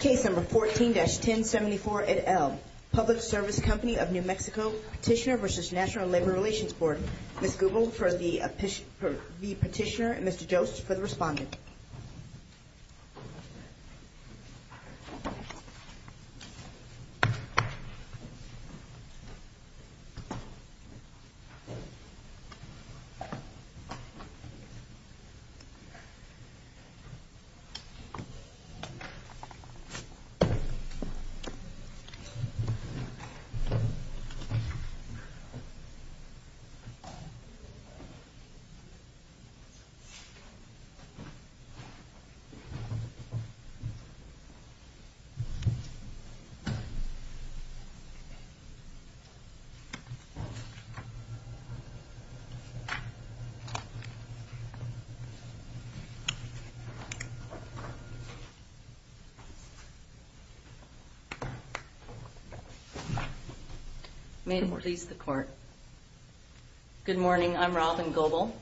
Case number 14-1074-8L, Public Service Company of New Mexico, Petitioner v. National Labor Relations Board. Ms. Google for the petitioner and Mr. Jost for the respondent. Ms. Google for the petitioner and Mr. Jost for the respondent. Ms. Google for the petitioner and Mr. Jost for the respondent. Ms. Google for the petitioner and Mr. Jost for the respondent. May it please the court. Good morning. I'm Robin Google.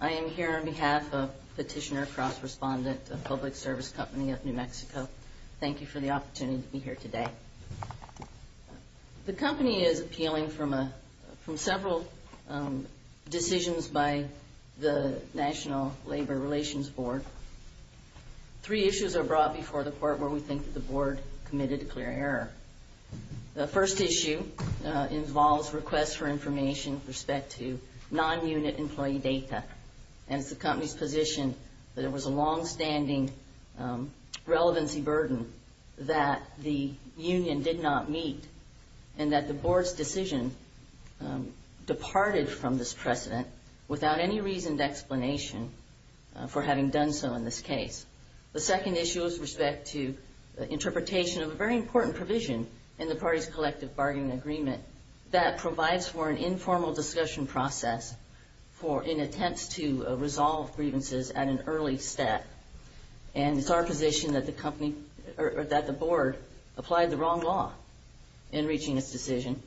I am here on behalf of Petitioner Cross Respondent of Public Service Company of New Mexico. Thank you for the opportunity to be here today. The company is appealing from several decisions by the National Labor Relations Board. Three issues are brought before the court where we think the board committed a clear error. The first issue involves requests for information with respect to non-unit employee data, and it's the company's position that it was a longstanding relevancy burden that the union did not meet and that the board's decision departed from this precedent without any reasoned explanation for having done so in this case. The second issue is respect to interpretation of a very important provision in the party's collective bargaining agreement that provides for an informal discussion process in attempts to resolve grievances at an early step, and it's our position that the board applied the wrong law in reaching its decision,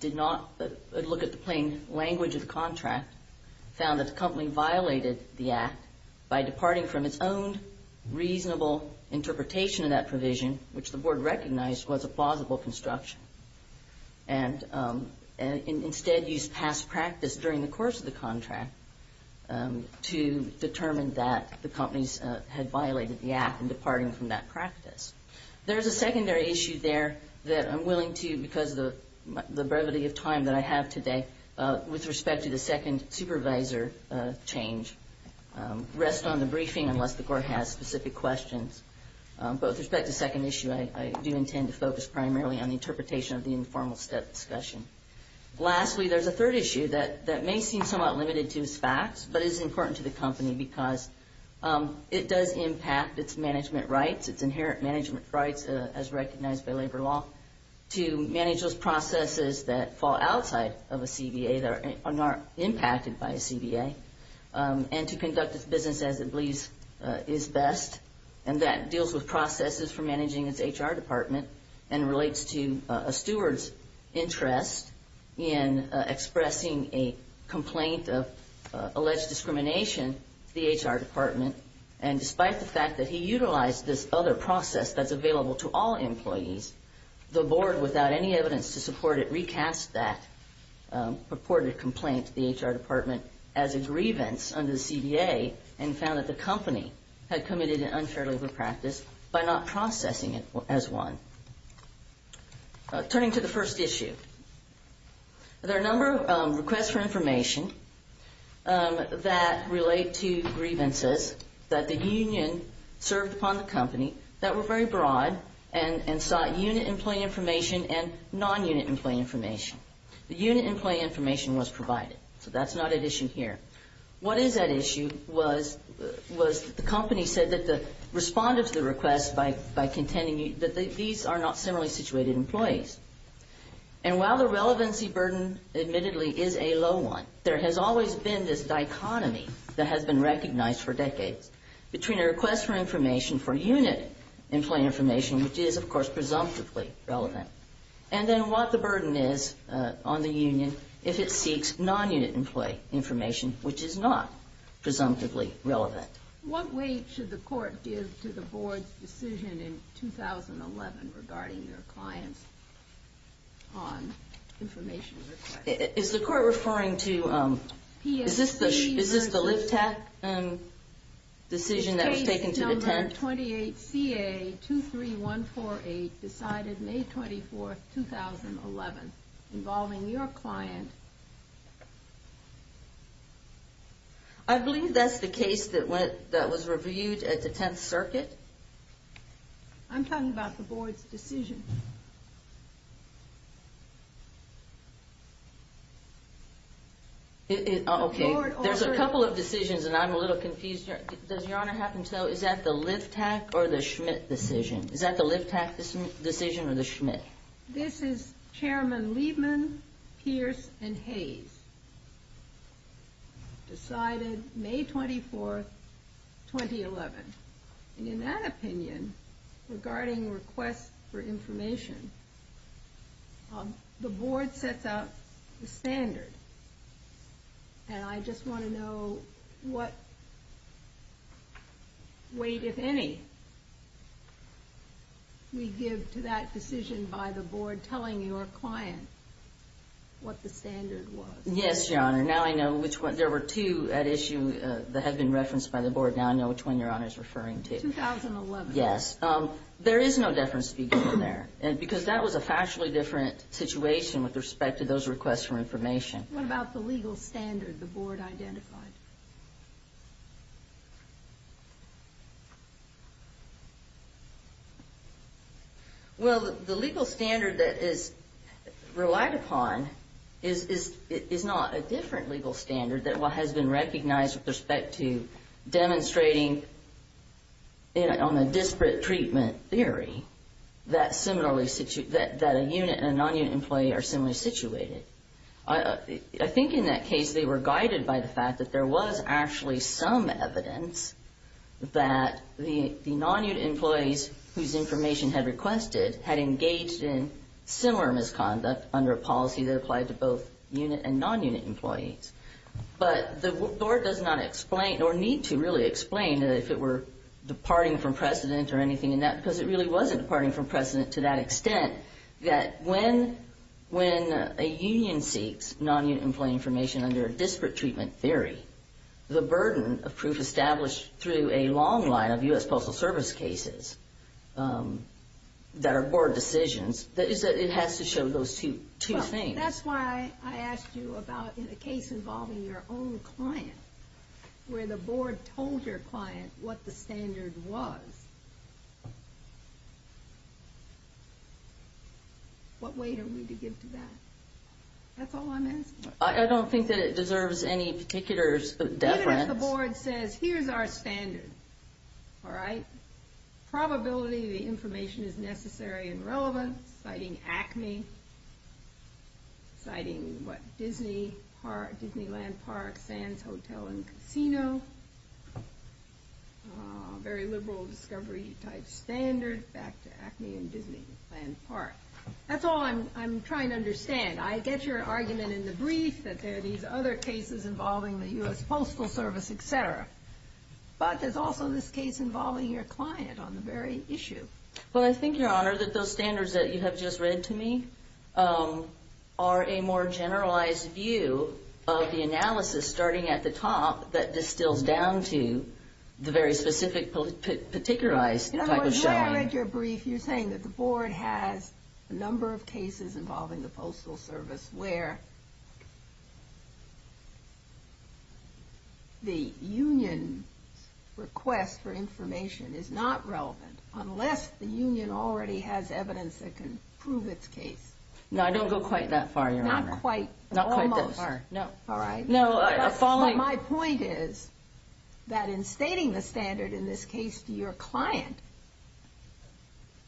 did not look at the plain language of the contract, found that the company violated the act by departing from its own reasonable interpretation of that provision, which the board recognized was a plausible construction, and instead used past practice during the course of the contract to determine that the companies had violated the act in departing from that practice. There's a secondary issue there that I'm willing to, because of the brevity of time that I have today, with respect to the second supervisor change, rest on the briefing unless the court has specific questions. But with respect to the second issue, I do intend to focus primarily on the interpretation of the informal step discussion. Lastly, there's a third issue that may seem somewhat limited to its facts, but is important to the company because it does impact its management rights, its inherent management rights as recognized by labor law, to manage those processes that fall outside of a CBA that are not impacted by a CBA, and to conduct its business as it believes is best, and that deals with processes for managing its HR department and relates to a steward's interest in expressing a complaint of alleged discrimination to the HR department. And despite the fact that he utilized this other process that's available to all employees, the board, without any evidence to support it, recast that purported complaint to the HR department as a grievance under the CBA and found that the company had committed an unfair labor practice by not processing it as one. Turning to the first issue, there are a number of requests for information that relate to grievances that the union served upon the company that were very broad and sought unit employee information and non-unit employee information. The unit employee information was provided, so that's not at issue here. What is at issue was the company said that the respondent to the request by contending that these are not similarly situated employees. And while the relevancy burden admittedly is a low one, there has always been this dichotomy that has been recognized for decades between a request for information for unit employee information, which is, of course, presumptively relevant, and then what the burden is on the union if it seeks non-unit employee information, which is not presumptively relevant. What weight should the court give to the board's decision in 2011 regarding your clients on information requests? Is the court referring to, is this the LIVTAC decision that was taken to the tent? Senate 28 CA 23148 decided May 24, 2011, involving your client. I believe that's the case that was reviewed at the Tenth Circuit. I'm talking about the board's decision. Okay, there's a couple of decisions, and I'm a little confused. Does Your Honor have to tell, is that the LIVTAC or the Schmidt decision? Is that the LIVTAC decision or the Schmidt? This is Chairman Liebman, Pierce, and Hayes. Decided May 24, 2011. And in that opinion, regarding requests for information, the board sets out the standard. And I just want to know what weight, if any, we give to that decision by the board telling your client what the standard was. Yes, Your Honor. Now I know which one. There were two at issue that have been referenced by the board. Now I know which one Your Honor is referring to. 2011. Yes. There is no deference to be given there, because that was a factually different situation with respect to those requests for information. What about the legal standard the board identified? Well, the legal standard that is relied upon is not a different legal standard that has been recognized with respect to demonstrating on the disparate treatment theory that a unit and a non-unit employee are similarly situated. I think in that case they were guided by the fact that there was actually some evidence that the non-unit employees whose information had requested had engaged in similar misconduct under a policy that applied to both unit and non-unit employees. But the board does not explain or need to really explain if it were departing from precedent or anything in that, because it really wasn't departing from precedent to that extent, that when a union seeks non-unit employee information under a disparate treatment theory, the burden of proof established through a long line of U.S. Postal Service cases that are board decisions, it has to show those two things. That's why I asked you about a case involving your own client, where the board told your client what the standard was. What weight are we to give to that? That's all I'm asking. I don't think that it deserves any particular deference. Even if the board says, here's our standard, all right? Probability the information is necessary and relevant, citing ACME, citing Disneyland Park, Sands Hotel and Casino, very liberal discovery type standard, back to ACME and Disneyland Park. That's all I'm trying to understand. I get your argument in the brief that there are these other cases involving the U.S. Postal Service, etc. But there's also this case involving your client on the very issue. Well, I think, Your Honor, that those standards that you have just read to me are a more generalized view of the analysis starting at the top that distills down to the very specific, particularized type of showing. In other words, when I read your brief, you're saying that the board has a number of cases involving the Postal Service where the union's request for information is not relevant unless the union already has evidence that can prove its case. No, I don't go quite that far, Your Honor. Not quite. Almost. Not quite that far. No. All right. My point is that in stating the standard in this case to your client,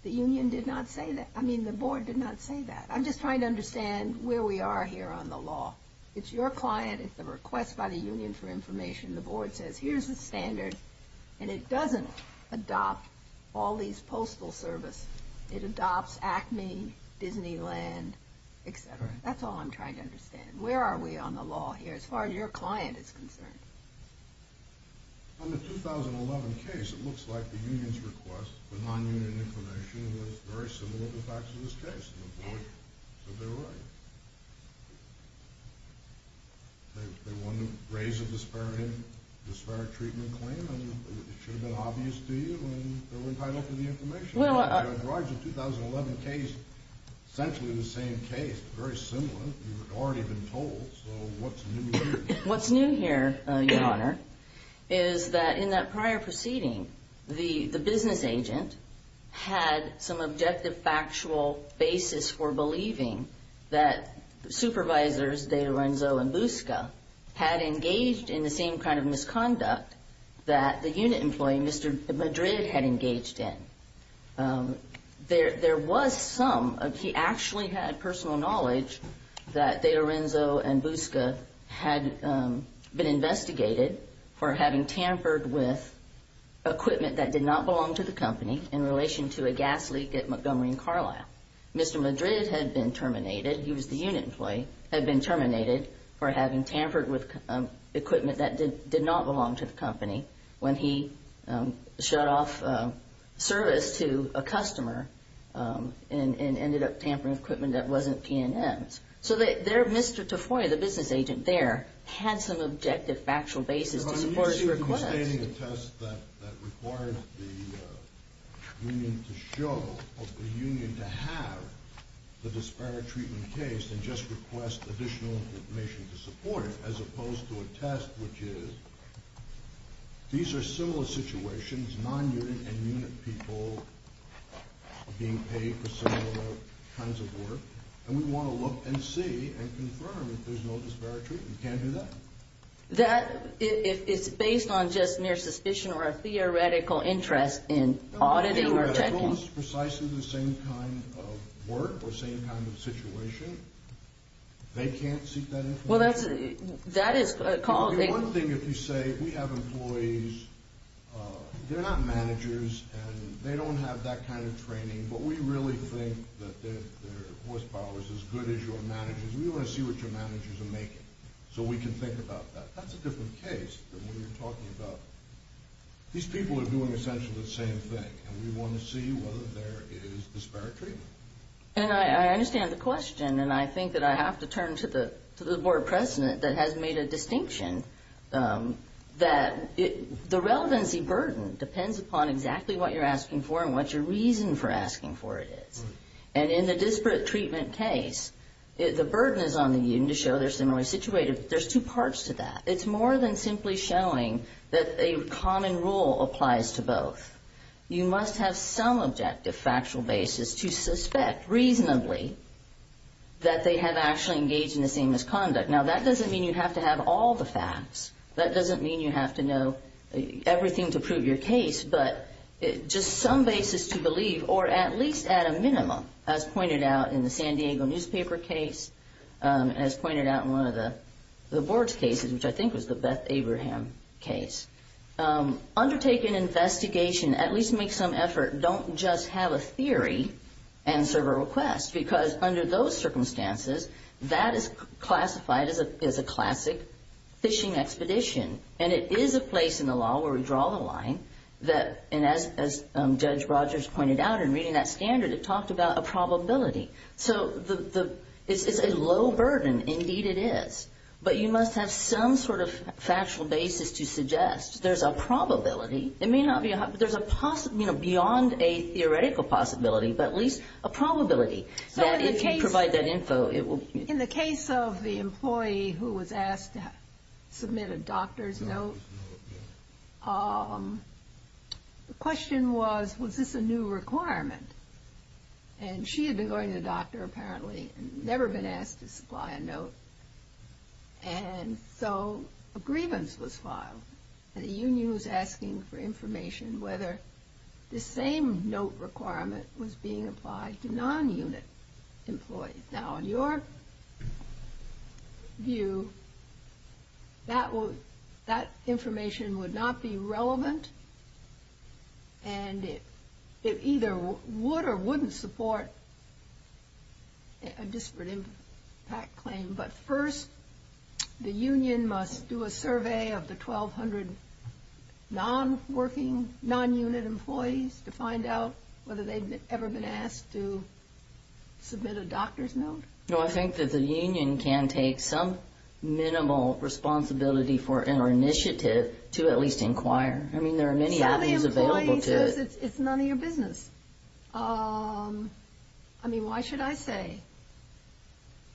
the union did not say that. I mean, the board did not say that. I'm just trying to understand where we are here on the law. It's your client. It's the request by the union for information. The board says, Here's the standard. And it doesn't adopt all these Postal Service. It adopts ACME, Disneyland, etc. That's all I'm trying to understand. Where are we on the law here as far as your client is concerned? On the 2011 case, it looks like the union's request for non-union information was very similar to the facts of this case. And the board said they were right. They wanted to raise a disparate treatment claim, and it should have been obvious to you, and they were entitled to the information. Well, I... The 2011 case, essentially the same case, very similar. You've already been told, so what's new here? What's new here, Your Honor, is that in that prior proceeding, the business agent had some objective factual basis for believing that supervisors De Lorenzo and Busca had engaged in the same kind of misconduct that the unit employee, Mr. Madrid, had engaged in. There was some. He actually had personal knowledge that De Lorenzo and Busca had been investigated for having tampered with equipment that did not belong to the company in relation to a gas leak at Montgomery & Carlisle. Mr. Madrid had been terminated, he was the unit employee, had been terminated for having tampered with equipment that did not belong to the company when he shut off service to a customer and ended up tampering with equipment that wasn't P&M's. So there, Mr. Tafoya, the business agent there, had some objective factual basis to support his request. Your Honor, let me see if I'm stating a test that requires the union to show, or the union to have, the disparate treatment case and just request additional information to support it, as opposed to a test which is, these are similar situations, non-unit and unit people being paid for similar kinds of work, and we want to look and see and confirm if there's no disparate treatment. You can't do that. That, it's based on just mere suspicion or a theoretical interest in auditing or checking. No, it's precisely the same kind of work or same kind of situation. They can't seek that information. Well, that's, that is called a... One thing, if you say, we have employees, they're not managers and they don't have that kind of training, but we really think that their horsepower is as good as your manager's. We want to see what your manager's are making so we can think about that. That's a different case than what you're talking about. These people are doing essentially the same thing, and we want to see whether there is disparate treatment. And I understand the question, and I think that I have to turn to the Board President that has made a distinction that the relevancy burden depends upon exactly what you're asking for and what your reason for asking for it is. And in the disparate treatment case, the burden is on the union to show they're similarly situated. There's two parts to that. It's more than simply showing that a common rule applies to both. You must have some objective factual basis to suspect reasonably that they have actually engaged in the same misconduct. Now, that doesn't mean you have to have all the facts. That doesn't mean you have to know everything to prove your case, but just some basis to believe, or at least at a minimum, as pointed out in the San Diego newspaper case, as pointed out in one of the Board's cases, which I think was the Beth Abraham case. Undertake an investigation, at least make some effort. Don't just have a theory and serve a request, because under those circumstances, that is classified as a classic phishing expedition. And it is a place in the law where we draw the line, and as Judge Rogers pointed out in reading that standard, it talked about a probability. So it's a low burden. Indeed, it is. But you must have some sort of factual basis to suggest there's a probability. It may not be a possibility. There's a possibility beyond a theoretical possibility, but at least a probability. So if you provide that info, it will be. In the case of the employee who was asked to submit a doctor's note, the question was, was this a new requirement? And she had been going to the doctor, apparently, and never been asked to supply a note. And so a grievance was filed, and the union was asking for information whether this same note requirement was being applied to non-unit employees. Now, in your view, that information would not be relevant, and it either would or wouldn't support a disparate impact claim. But first, the union must do a survey of the 1,200 non-unit employees to find out whether they've ever been asked to submit a doctor's note. No, I think that the union can take some minimal responsibility for an initiative to at least inquire. I mean, there are many avenues available to it. So the employee says it's none of your business. I mean, why should I say,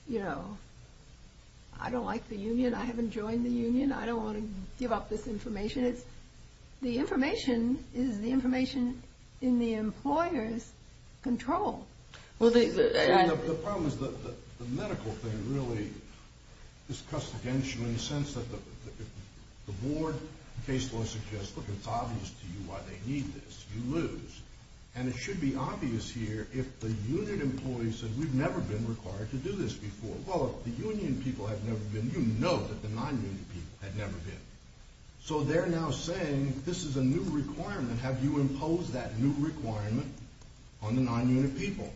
you know, I don't like the union, I haven't joined the union, I don't want to give up this information. The information is the information in the employer's control. Well, the problem is that the medical thing really is custodianship in the sense that the board case law suggests, look, it's obvious to you why they need this. You lose. And it should be obvious here if the unit employee said, we've never been required to do this before. Well, the union people have never been. You know that the non-union people have never been. So they're now saying this is a new requirement. Have you imposed that new requirement on the non-unit people?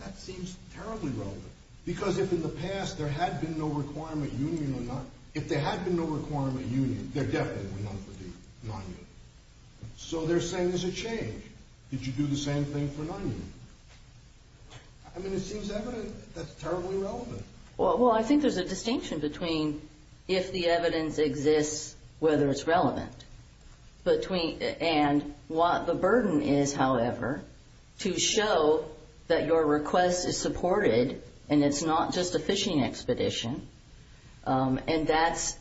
That seems terribly relevant. Because if in the past there had been no requirement union or not, if there had been no requirement union, they're definitely not for the non-union. So they're saying there's a change. Did you do the same thing for non-union? I mean, it seems evident that's terribly relevant. Well, I think there's a distinction between if the evidence exists, whether it's relevant, and what the burden is, however, to show that your request is supported and it's not just a fishing expedition. And that's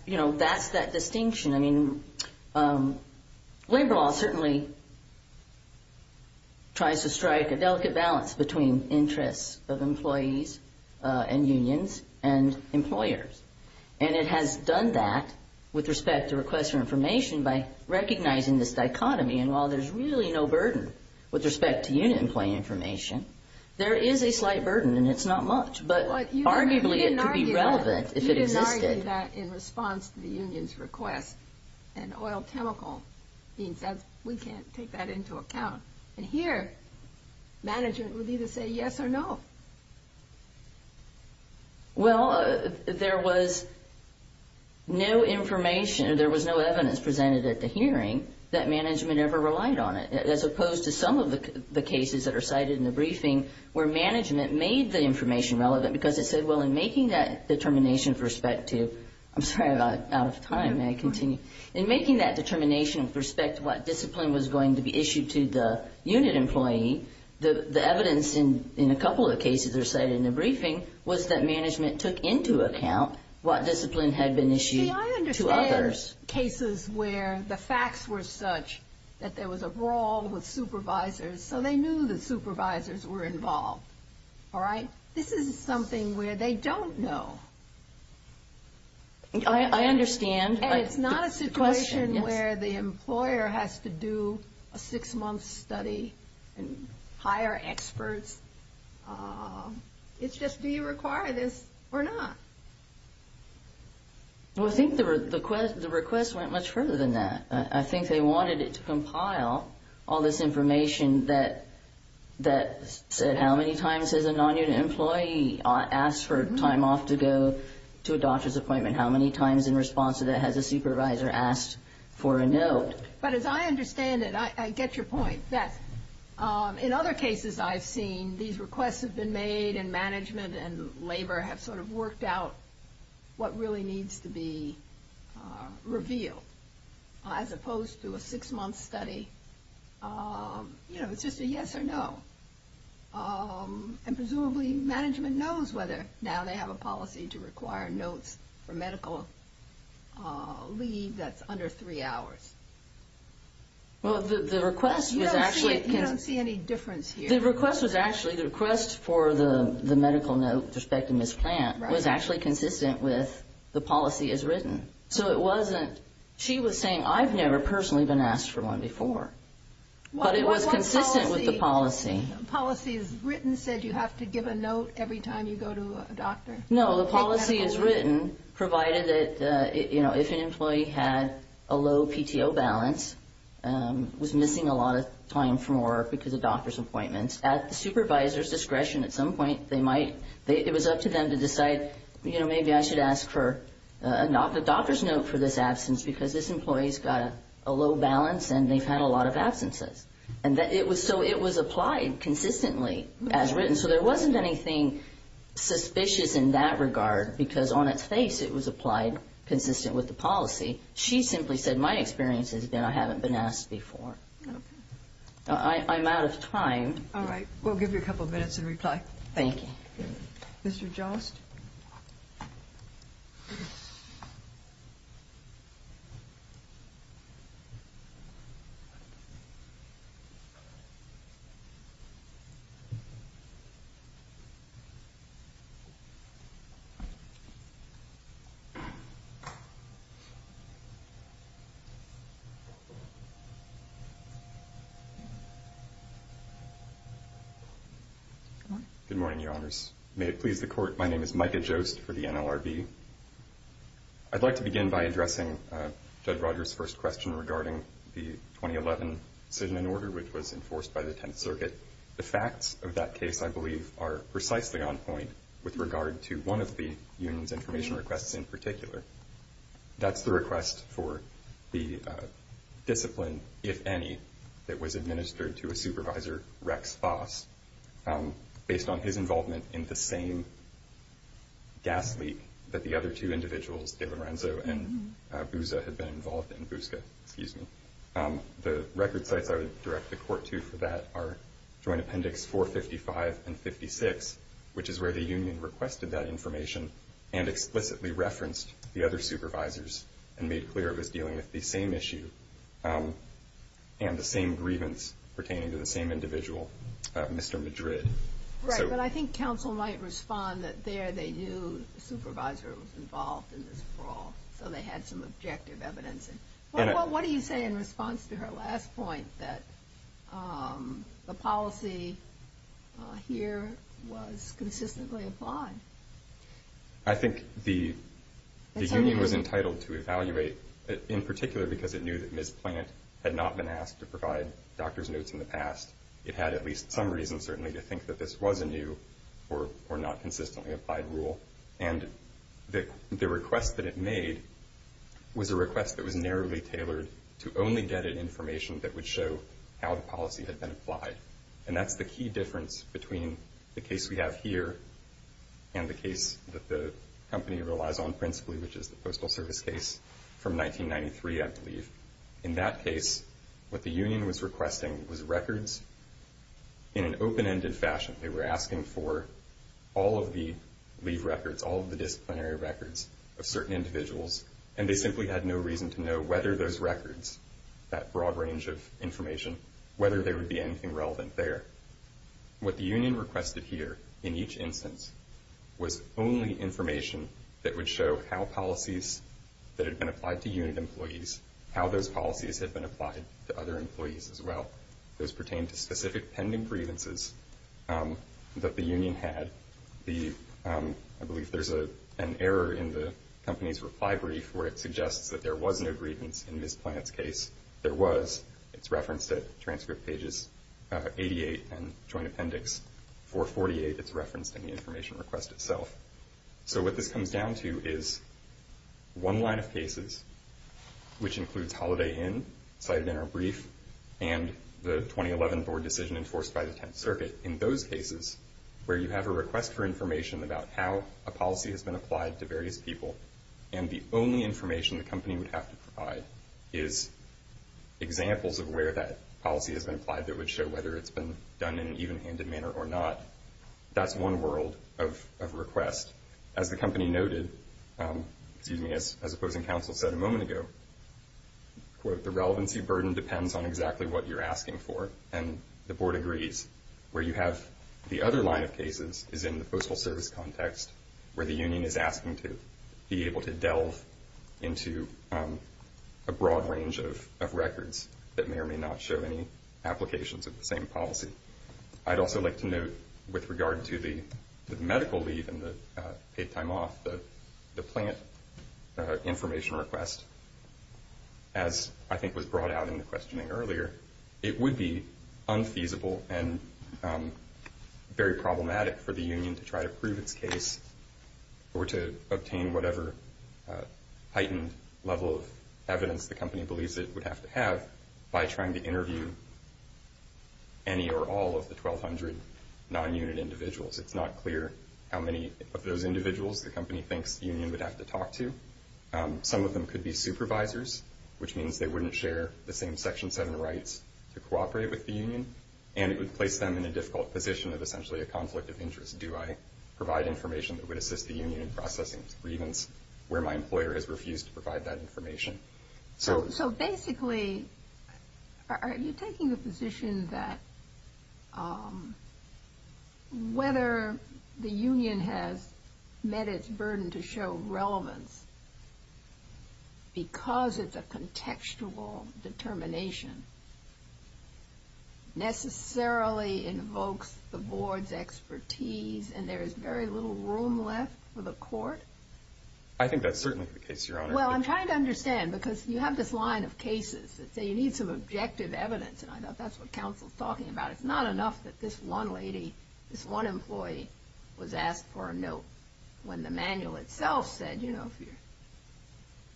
that distinction. I mean, labor law certainly tries to strike a delicate balance between interests of employees and unions and employers. And it has done that with respect to requests for information by recognizing this dichotomy. And while there's really no burden with respect to unit employee information, there is a slight burden, and it's not much. But arguably it could be relevant if it existed. You say that in response to the union's request. And oil chemical means that we can't take that into account. And here management would either say yes or no. Well, there was no information or there was no evidence presented at the hearing that management ever relied on it, as opposed to some of the cases that are cited in the briefing where management made the information relevant because it said, well, in making that determination with respect to, I'm sorry, I'm out of time. May I continue? In making that determination with respect to what discipline was going to be issued to the unit employee, the evidence in a couple of the cases that are cited in the briefing was that management took into account what discipline had been issued to others. See, I understand cases where the facts were such that there was a brawl with supervisors, so they knew that supervisors were involved. All right? This is something where they don't know. I understand. And it's not a situation where the employer has to do a six-month study and hire experts. It's just, do you require this or not? Well, I think the request went much further than that. I think they wanted it to compile all this information that said how many times has a non-unit employee asked for time off to go to a doctor's appointment, how many times in response to that has a supervisor asked for a note. But as I understand it, I get your point, that in other cases I've seen, these requests have been made and management and labor have sort of worked out what really needs to be revealed. As opposed to a six-month study, you know, it's just a yes or no. And presumably management knows whether or not they have a policy to require notes for medical leave that's under three hours. Well, the request was actually... You don't see any difference here. The request was actually, the request for the medical note with respect to Ms. Plant was actually consistent with the policy as written. So it wasn't, she was saying, I've never personally been asked for one before. But it was consistent with the policy. Policy as written said you have to give a note every time you go to a doctor. No, the policy as written provided that, you know, if an employee had a low PTO balance, was missing a lot of time from work because of doctor's appointments, at the supervisor's discretion at some point they might, it was up to them to decide, you know, maybe I should ask for a doctor's note for this absence because this employee has got a low balance and they've had a lot of absences. And so it was applied consistently as written. So there wasn't anything suspicious in that regard because on its face it was applied consistent with the policy. She simply said my experience has been I haven't been asked before. I'm out of time. All right. We'll give you a couple minutes in reply. Thank you. Mr. Jost. All right. Good morning, Your Honors. My name is Micah Jost for the NLRB. I'd like to begin by addressing Judge Rogers' first question regarding the 2011 decision and order which was enforced by the Tenth Circuit. The facts of that case I believe are precisely on point with regard to one of the union's information requests in particular. That's the request for the discipline, if any, that was administered to a supervisor, Rex Foss, based on his involvement in the same gas leak that the other two individuals, DiLorenzo and Busca, had been involved in. The record sites I would direct the Court to for that are Joint Appendix 455 and 56, which is where the union requested that information and explicitly referenced the other supervisors and made clear it was dealing with the same issue and the same grievance pertaining to the same individual, Mr. Madrid. Right, but I think counsel might respond that there they knew the supervisor was involved in this brawl, so they had some objective evidence. What do you say in response to her last point that the policy here was consistently applied? I think the union was entitled to evaluate, in particular because it knew that Ms. Plant had not been asked to provide doctor's notes in the past. It had at least some reason, certainly, to think that this was a new or not consistently applied rule. And the request that it made was a request that was narrowly tailored to only get an information that would show how the policy had been applied. And that's the key difference between the case we have here and the case that the company relies on principally, which is the Postal Service case from 1993, I believe. In that case, what the union was requesting was records in an open-ended fashion. They were asking for all of the leave records, all of the disciplinary records of certain individuals, and they simply had no reason to know whether those records, that broad range of information, whether there would be anything relevant there. What the union requested here, in each instance, was only information that would show how policies that had been applied to unit employees, how those policies had been applied to other employees as well. Those pertain to specific pending grievances that the union had. I believe there's an error in the company's reply brief where it suggests that there was no grievance in Ms. Plant's case. There was. It's referenced at transcript pages 88 and joint appendix 448. It's referenced in the information request itself. So what this comes down to is one line of cases, which includes Holiday Inn, cited in our brief, and the 2011 board decision enforced by the Tenth Circuit. In those cases, where you have a request for information about how a policy has been applied to various people and the only information the company would have to provide is examples of where that policy has been applied that would show whether it's been done in an even-handed manner or not, that's one world of request. As the company noted, excuse me, as opposing counsel said a moment ago, quote, the relevancy burden depends on exactly what you're asking for. And the board agrees. Where you have the other line of cases is in the postal service context, where the union is asking to be able to delve into a broad range of records that may or may not show any applications of the same policy. I'd also like to note with regard to the medical leave and the paid time off, the plant information request, as I think was brought out in the questioning earlier, it would be unfeasible and very problematic for the union to try to prove its case or to obtain whatever heightened level of evidence the company believes it would have to have by trying to interview any or all of the 1,200 non-unit individuals. It's not clear how many of those individuals the company thinks the union would have to talk to. Some of them could be supervisors, which means they wouldn't share the same Section 7 rights to cooperate with the union, and it would place them in a difficult position of essentially a conflict of interest. Do I provide information that would assist the union in processing its grievance So basically, are you taking the position that whether the union has met its burden to show relevance because it's a contextual determination necessarily invokes the board's expertise and there is very little room left for the court? I think that's certainly the case, Your Honor. Well, I'm trying to understand because you have this line of cases that say you need some objective evidence, and I thought that's what counsel's talking about. It's not enough that this one lady, this one employee was asked for a note when the manual itself said, you know, if you're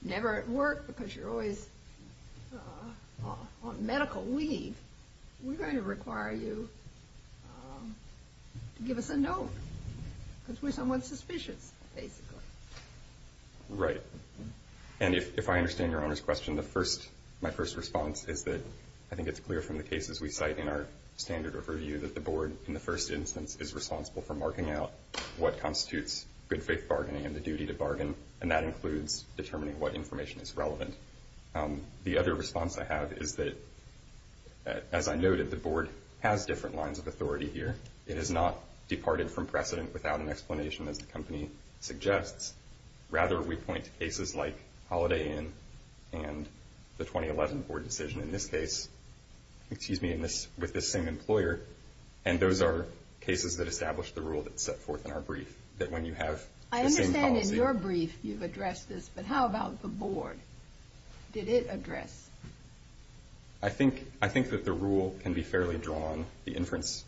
never at work because you're always on medical leave, we're going to require you to give us a note because we're somewhat suspicious, basically. Right. And if I understand Your Honor's question, my first response is that I think it's clear from the cases we cite in our standard of review that the board, in the first instance, is responsible for marking out what constitutes good faith bargaining and the duty to bargain, and that includes determining what information is relevant. The other response I have is that, as I noted, the board has different lines of authority here. It has not departed from precedent without an explanation, as the company suggests. Rather, we point to cases like Holiday Inn and the 2011 board decision in this case, excuse me, with this same employer, and those are cases that establish the rule that's set forth in our brief, that when you have the same policy. I understand in your brief you've addressed this, but how about the board? Did it address? I think that the rule can be fairly drawn, the inference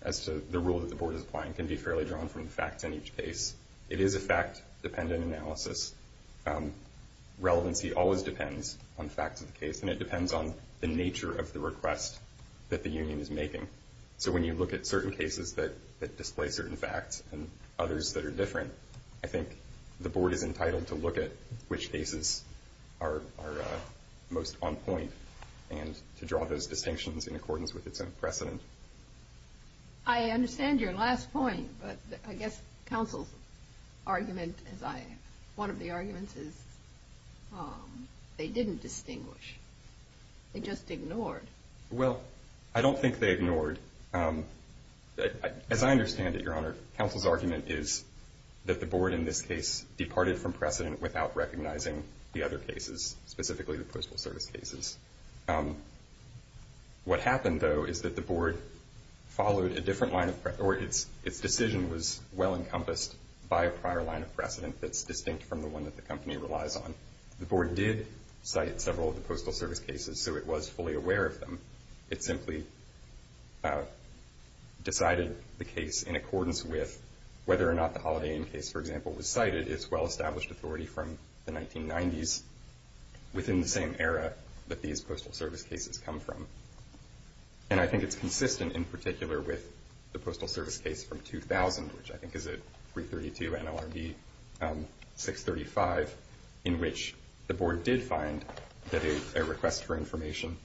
as to the rule that the board is applying can be fairly drawn from the facts in each case. It is a fact-dependent analysis. Relevancy always depends on facts of the case, and it depends on the nature of the request that the union is making. So when you look at certain cases that display certain facts and others that are different, I think the board is entitled to look at which cases are most on point and to draw those distinctions in accordance with its own precedent. I understand your last point, but I guess counsel's argument, one of the arguments is they didn't distinguish. They just ignored. Well, I don't think they ignored. As I understand it, Your Honor, counsel's argument is that the board in this case departed from precedent without recognizing the other cases, specifically the postal service cases. What happened, though, is that the board followed a different line of precedent or its decision was well encompassed by a prior line of precedent that's distinct from the one that the company relies on. The board did cite several of the postal service cases, so it was fully aware of them. It simply decided the case in accordance with whether or not the Holiday Inn case, for example, was cited. It's well-established authority from the 1990s, within the same era that these postal service cases come from. And I think it's consistent in particular with the postal service case from 2000, which I think is a 332 NLRB 635, in which the board did find that a request for information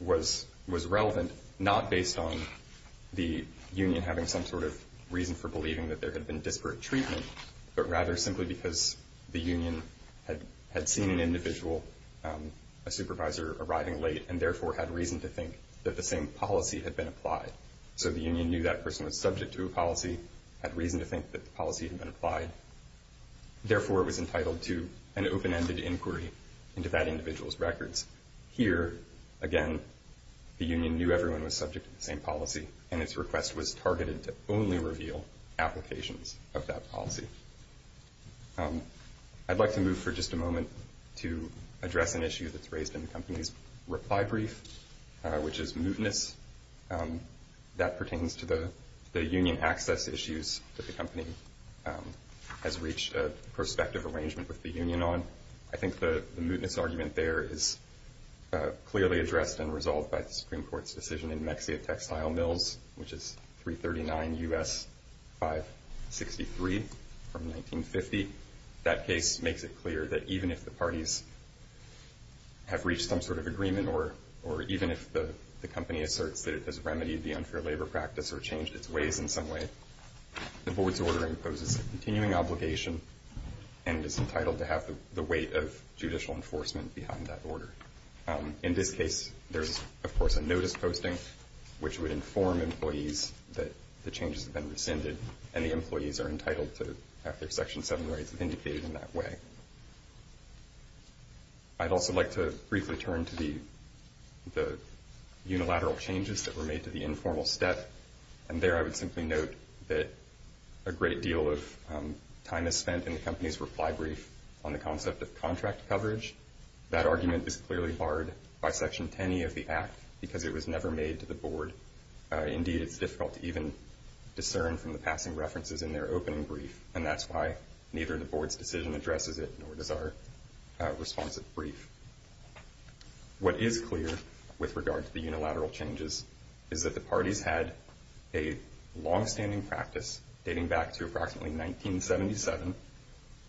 was relevant, not based on the union having some sort of reason for believing that there had been disparate treatment, but rather simply because the union had seen an individual, a supervisor, arriving late and therefore had reason to think that the same policy had been applied. Therefore, it was entitled to an open-ended inquiry into that individual's records. Here, again, the union knew everyone was subject to the same policy and its request was targeted to only reveal applications of that policy. I'd like to move for just a moment to address an issue that's raised in the company's reply brief, which is mootness. That pertains to the union access issues that the company has reached a prospective arrangement with the union on. I think the mootness argument there is clearly addressed and resolved by the Supreme Court's decision in Mexia Textile Mills, which is 339 U.S. 563 from 1950. That case makes it clear that even if the parties have reached some sort of agreement or even if the company asserts that it has remedied the unfair labor practice or changed its ways in some way, the board's ordering poses a continuing obligation and is entitled to have the weight of judicial enforcement behind that order. In this case, there's, of course, a notice posting, which would inform employees that the changes have been rescinded and the employees are entitled to have their Section 7 rights indicated in that way. I'd also like to briefly turn to the unilateral changes that were made to the informal step, and there I would simply note that a great deal of time is spent in the company's reply brief on the concept of contract coverage. That argument is clearly barred by Section 10e of the Act because it was never made to the board. Indeed, it's difficult to even discern from the passing references in their opening brief, and that's why neither the board's decision addresses it nor does our responsive brief. What is clear with regard to the unilateral changes is that the parties had a longstanding practice dating back to approximately 1977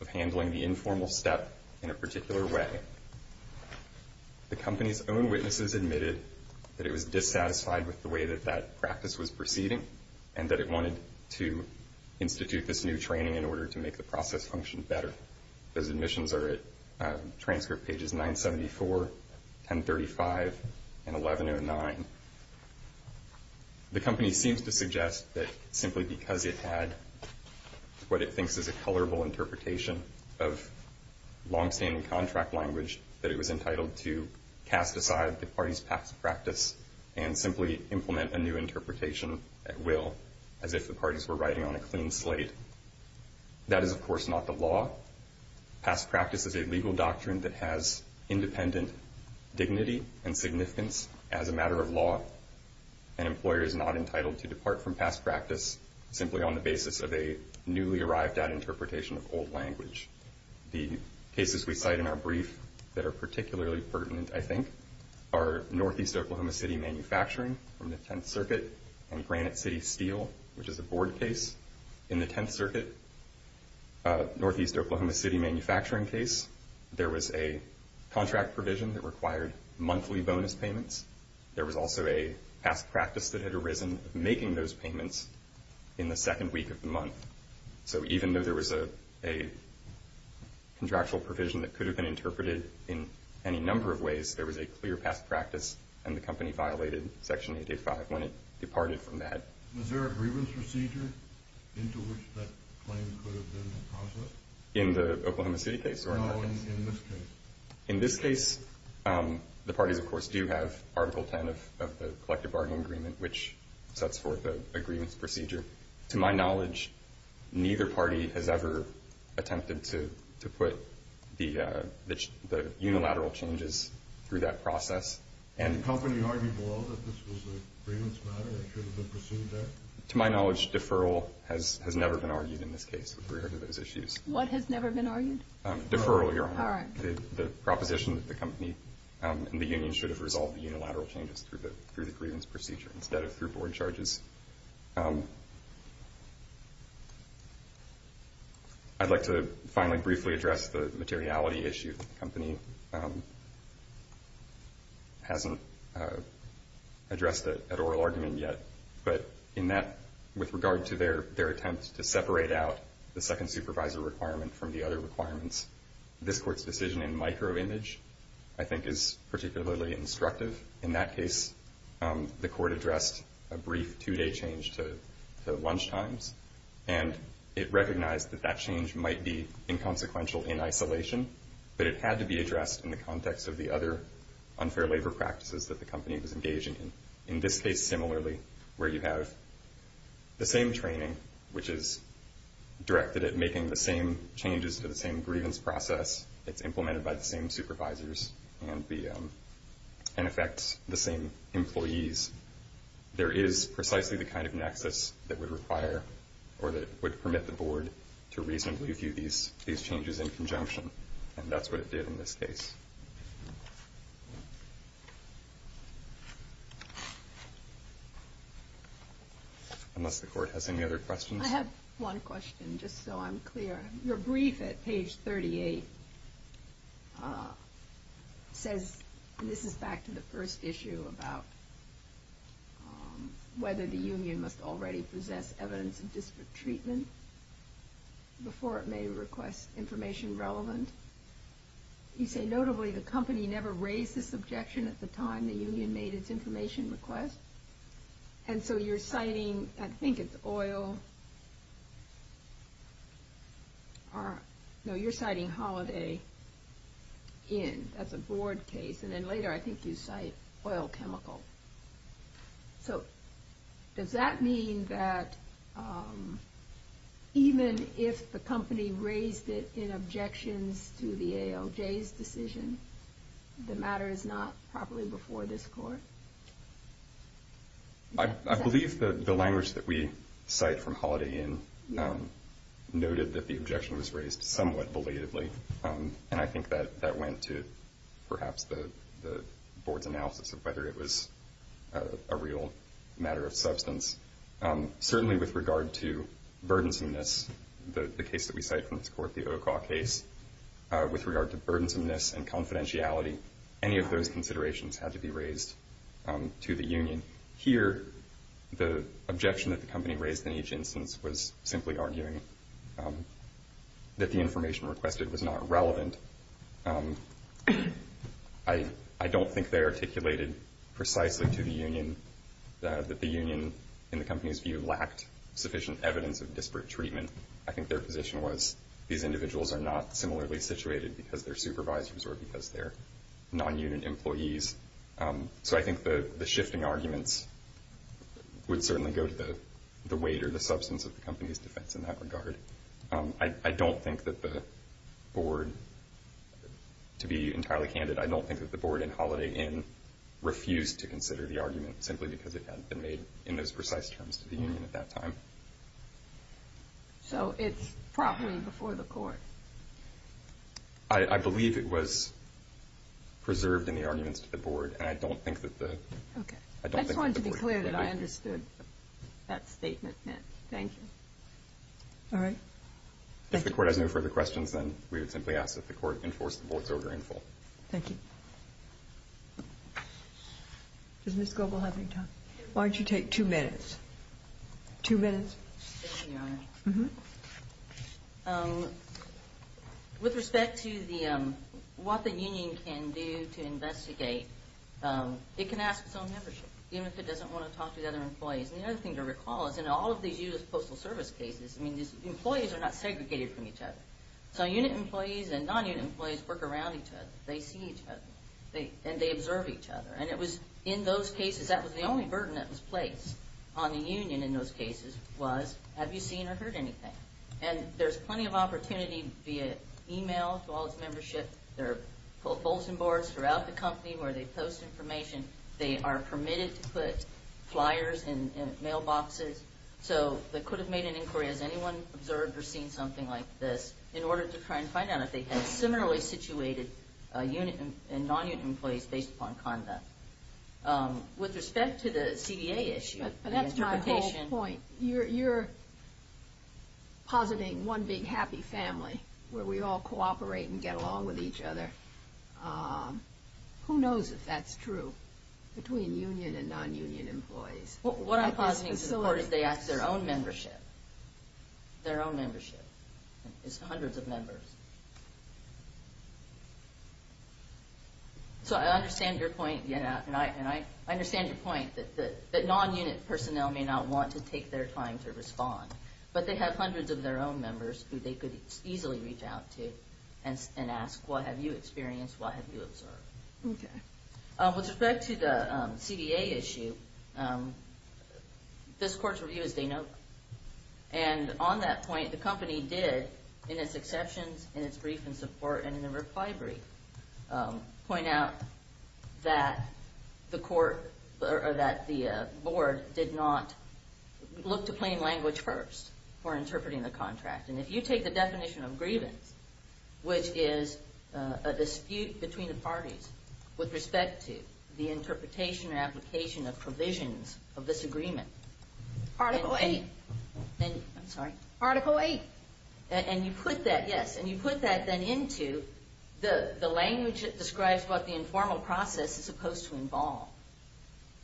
of handling the informal step in a particular way. The company's own witnesses admitted that it was dissatisfied with the way that that practice was proceeding and that it wanted to institute this new training in order to make the process function better. Those admissions are at transcript pages 974, 1035, and 1109. The company seems to suggest that simply because it had what it thinks is a colorful interpretation of longstanding contract language that it was entitled to cast aside the party's past practice and simply implement a new interpretation at will as if the parties were riding on a clean slate. That is, of course, not the law. Past practice is a legal doctrine that has independent dignity and significance as a matter of law. An employer is not entitled to depart from past practice simply on the basis of a newly arrived at interpretation of old language. The cases we cite in our brief that are particularly pertinent, I think, are Northeast Oklahoma City Manufacturing from the Tenth Circuit and Granite City Steel, which is a board case. In the Tenth Circuit Northeast Oklahoma City Manufacturing case, there was a contract provision that required monthly bonus payments. There was also a past practice that had arisen making those payments in the second week of the month. So even though there was a contractual provision that could have been interpreted in any number of ways, there was a clear past practice and the company violated Section 885 when it departed from that. Was there a grievance procedure into which that claim could have been processed? In the Oklahoma City case or not? No, in this case. In this case, the parties, of course, do have Article 10 of the Collective Bargaining Agreement, which sets forth a grievance procedure. To my knowledge, neither party has ever attempted to put the unilateral changes through that process. Did the company argue below that this was a grievance matter that should have been pursued there? To my knowledge, deferral has never been argued in this case with regard to those issues. What has never been argued? Deferral, Your Honor. All right. The proposition that the company and the union should have resolved the unilateral changes through the grievance procedure instead of through board charges. I'd like to finally briefly address the materiality issue. The company hasn't addressed that oral argument yet. But in that, with regard to their attempt to separate out the second supervisor requirement from the other requirements, this Court's decision in micro-image, I think, is particularly instructive. In that case, the Court addressed a brief two-day change to lunch times, and it recognized that that change might be inconsequential in isolation, but it had to be addressed in the context of the other unfair labor practices that the company was engaging in. In this case, similarly, where you have the same training, which is directed at making the same changes to the same grievance process, it's implemented by the same supervisors and affects the same employees, there is precisely the kind of nexus that would require or that would permit the board to reasonably view these changes in conjunction. And that's what it did in this case. Unless the Court has any other questions? I have one question, just so I'm clear. Your brief at page 38 says, and this is back to the first issue, about whether the union must already possess evidence of disparate treatment before it may request information relevant. You say, notably, the company never raised this objection at the time the union made its information request. And so you're citing, I think it's oil, no, you're citing Holiday Inn, that's a board case, and then later I think you cite oil chemical. So does that mean that even if the company raised it in objections to the ALJ's decision, the matter is not properly before this Court? I believe that the language that we cite from Holiday Inn noted that the objection was raised somewhat belatedly, and I think that that went to perhaps the board's analysis of whether it was a real matter of substance. Certainly with regard to burdensomeness, the case that we cite from this Court, the Okaw case, with regard to burdensomeness and confidentiality, any of those considerations had to be raised to the union. Here, the objection that the company raised in each instance was simply arguing that the information requested was not relevant. I don't think they articulated precisely to the union that the union, in the company's view, lacked sufficient evidence of disparate treatment. I think their position was these individuals are not similarly situated because they're supervisors or because they're non-unit employees. So I think the shifting arguments would certainly go to the weight or the substance of the company's defense in that regard. I don't think that the board, to be entirely candid, I don't think that the board in Holiday Inn refused to consider the argument simply because it hadn't been made in those precise terms to the union at that time. So it's properly before the court? I believe it was preserved in the arguments to the board, and I don't think that the board agreed. I just wanted to be clear that I understood that statement. Thank you. All right. Thank you. If the court has no further questions, then we would simply ask that the court enforce the board's order in full. Thank you. Does Ms. Goble have any time? Why don't you take two minutes? Two minutes. Thank you, Your Honor. With respect to what the union can do to investigate, it can ask its own membership, even if it doesn't want to talk to the other employees. And the other thing to recall is in all of these U.S. Postal Service cases, employees are not segregated from each other. So unit employees and non-unit employees work around each other. They see each other, and they observe each other. And it was in those cases, that was the only burden that was placed on the union in those cases was, have you seen or heard anything? And there's plenty of opportunity via email to all its membership. There are bulletin boards throughout the company where they post information. They are permitted to put flyers in mailboxes. So they could have made an inquiry, has anyone observed or seen something like this, in order to try and find out if they had similarly situated unit and non-unit employees based upon conduct. With respect to the CDA issue. But that's my whole point. You're positing one big happy family where we all cooperate and get along with each other. Who knows if that's true between union and non-union employees? What I'm positing to the Court is they ask their own membership, their own membership. It's hundreds of members. So I understand your point. And I understand your point that non-unit personnel may not want to take their time to respond. But they have hundreds of their own members who they could easily reach out to and ask, what have you experienced? What have you observed? Okay. With respect to the CDA issue, this Court's review is they know. And on that point, the company did, in its exceptions, in its brief in support, and in the reply brief, point out that the Board did not look to plain language first for interpreting the contract. And if you take the definition of grievance, which is a dispute between the parties with respect to the interpretation or application of provisions of this agreement. Article 8. I'm sorry? Article 8. And you put that, yes. And you put that then into the language that describes what the informal process is supposed to involve.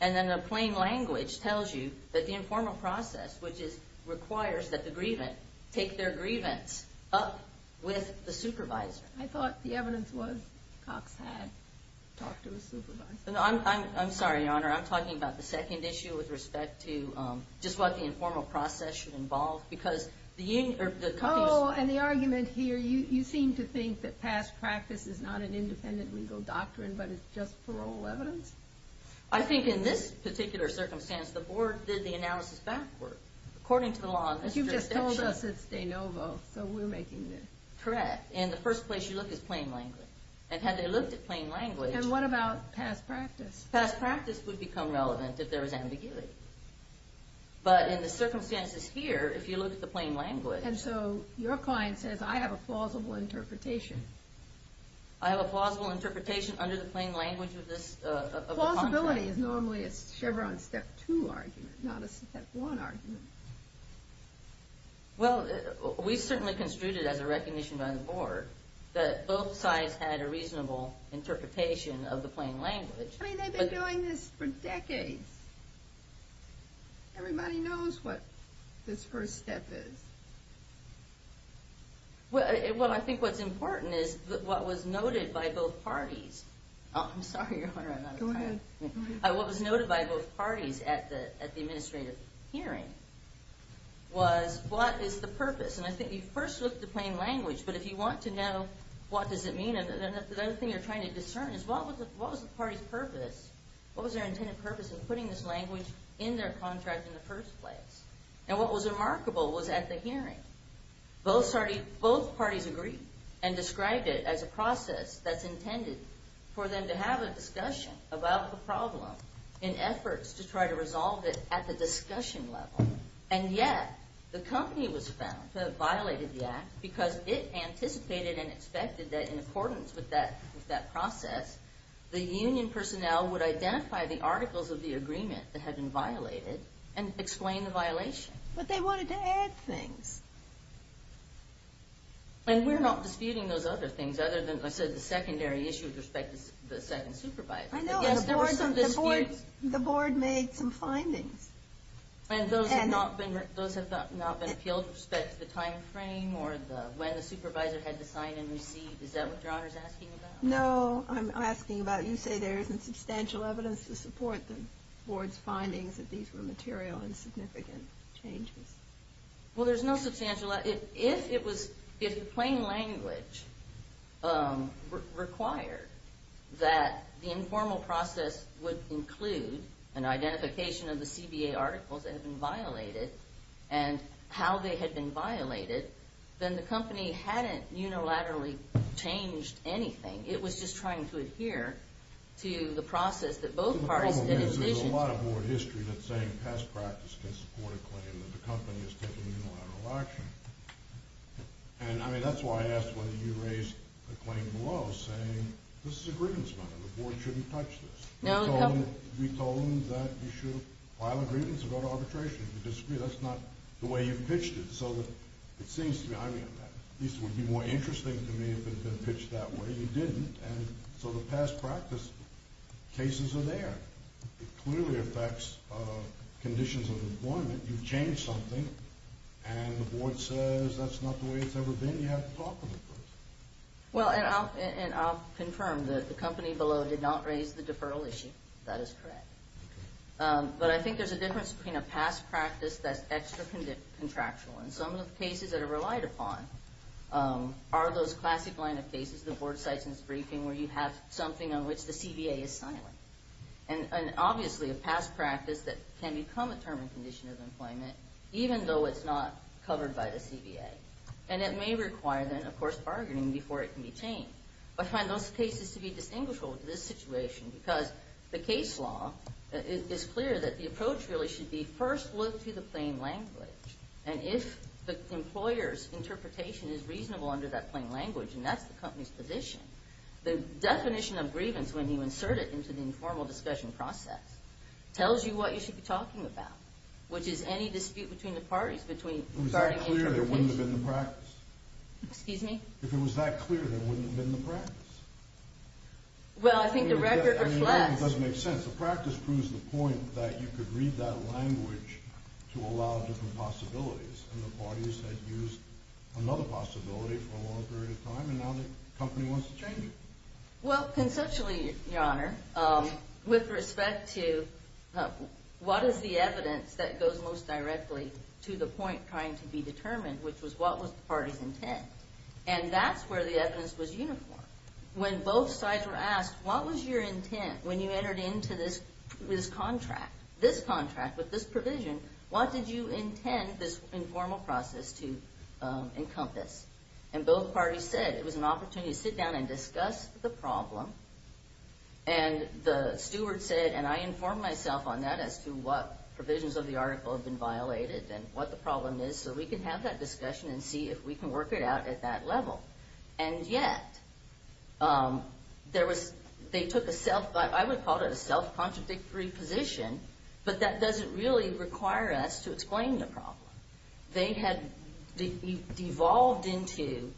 And then the plain language tells you that the informal process, which requires that the grievant take their grievance up with the supervisor. I thought the evidence was Cox had talked to his supervisor. I'm sorry, Your Honor. I'm talking about the second issue with respect to just what the informal process should involve. Because the company is- Oh, and the argument here, you seem to think that past practice is not an independent legal doctrine but is just parole evidence? I think in this particular circumstance, the Board did the analysis backward. According to the law- But you've just told us it's de novo, so we're making this. Correct. And the first place you look is plain language. And had they looked at plain language- And what about past practice? Past practice would become relevant if there was ambiguity. But in the circumstances here, if you look at the plain language- And so your client says, I have a plausible interpretation. I have a plausible interpretation under the plain language of this contract. Plausibility is normally a Chevron Step 2 argument, not a Step 1 argument. Well, we certainly construed it as a recognition by the Board that both sides had a reasonable interpretation of the plain language. I mean, they've been doing this for decades. Everybody knows what this first step is. Well, I think what's important is what was noted by both parties- Oh, I'm sorry, Your Honor, I'm out of time. Go ahead. What was noted by both parties at the administrative hearing was what is the purpose? And I think you first looked at the plain language. But if you want to know what does it mean, the other thing you're trying to discern is what was the party's purpose? What was their intended purpose of putting this language in their contract in the first place? And what was remarkable was at the hearing, both parties agreed and described it as a process that's intended for them to have a discussion about the problem in efforts to try to resolve it at the discussion level. And yet, the company was found to have violated the act because it anticipated and expected that in accordance with that process, the union personnel would identify the articles of the agreement that had been violated and explain the violation. But they wanted to add things. And we're not disputing those other things other than, like I said, the secondary issue with respect to the second supervisor. I know, and the Board made some findings. And those have not been appealed with respect to the time frame or when the supervisor had to sign and receive. Is that what your Honor is asking about? No, I'm asking about you say there isn't substantial evidence to support the Board's findings that these were material and significant changes. Well, there's no substantial evidence. If the plain language required that the informal process would include an identification of the CBA articles that had been violated and how they had been violated, then the company hadn't unilaterally changed anything. It was just trying to adhere to the process that both parties had envisioned. There's a lot of Board history that's saying past practice can support a claim that the company is taking unilateral action. And, I mean, that's why I asked whether you raised the claim below, saying this is a grievance matter. The Board shouldn't touch this. We told them that you should file a grievance and go to arbitration. If you disagree, that's not the way you've pitched it. So it seems to me, I mean, at least it would be more interesting to me if it had been pitched that way. You didn't, and so the past practice cases are there. It clearly affects conditions of employment. You've changed something, and the Board says that's not the way it's ever been. You have to talk to them first. Well, and I'll confirm that the company below did not raise the deferral issue. That is correct. But I think there's a difference between a past practice that's extra contractual and some of the cases that are relied upon are those classic line of cases the Board cites in its briefing where you have something on which the CBA is silent, and obviously a past practice that can become a term and condition of employment even though it's not covered by the CBA. And it may require, then, of course, bargaining before it can be changed. I find those cases to be distinguishable from this situation because the case law is clear that the approach really should be first look to the plain language, and if the employer's interpretation is reasonable under that plain language, and that's the company's position, the definition of grievance when you insert it into the informal discussion process tells you what you should be talking about, which is any dispute between the parties regarding interpretation. If it was that clear, there wouldn't have been the practice. Excuse me? If it was that clear, there wouldn't have been the practice. Well, I think the record reflects. It doesn't make sense. The practice proves the point that you could read that language to allow different possibilities, and the parties had used another possibility for a long period of time, and now the company wants to change it. Well, conceptually, Your Honor, with respect to what is the evidence that goes most directly to the point trying to be determined, which was what was the party's intent, and that's where the evidence was uniform. When both sides were asked, what was your intent when you entered into this contract, this contract with this provision, what did you intend this informal process to encompass? And both parties said it was an opportunity to sit down and discuss the problem, and the steward said, and I informed myself on that as to what provisions of the article have been violated and what the problem is so we can have that discussion and see if we can work it out at that level. And yet, they took a self-contradictory position, but that doesn't really require us to explain the problem. They had devolved into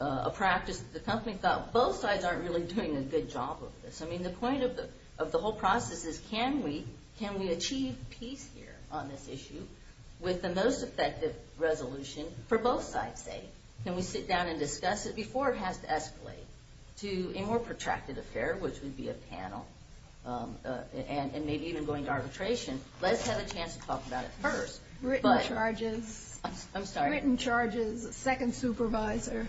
a practice that the company thought, both sides aren't really doing a good job of this. I mean, the point of the whole process is, can we achieve peace here on this issue with the most effective resolution for both sides, say? Can we sit down and discuss it before it has to escalate to a more protracted affair, which would be a panel, and maybe even going to arbitration? Let's have a chance to talk about it first. Written charges. I'm sorry. Written charges, second supervisor.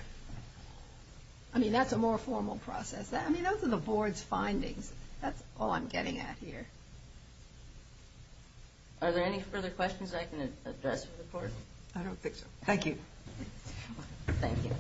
I mean, that's a more formal process. I mean, those are the board's findings. That's all I'm getting at here. Are there any further questions I can address for the board? I don't think so. Thank you. Thank you.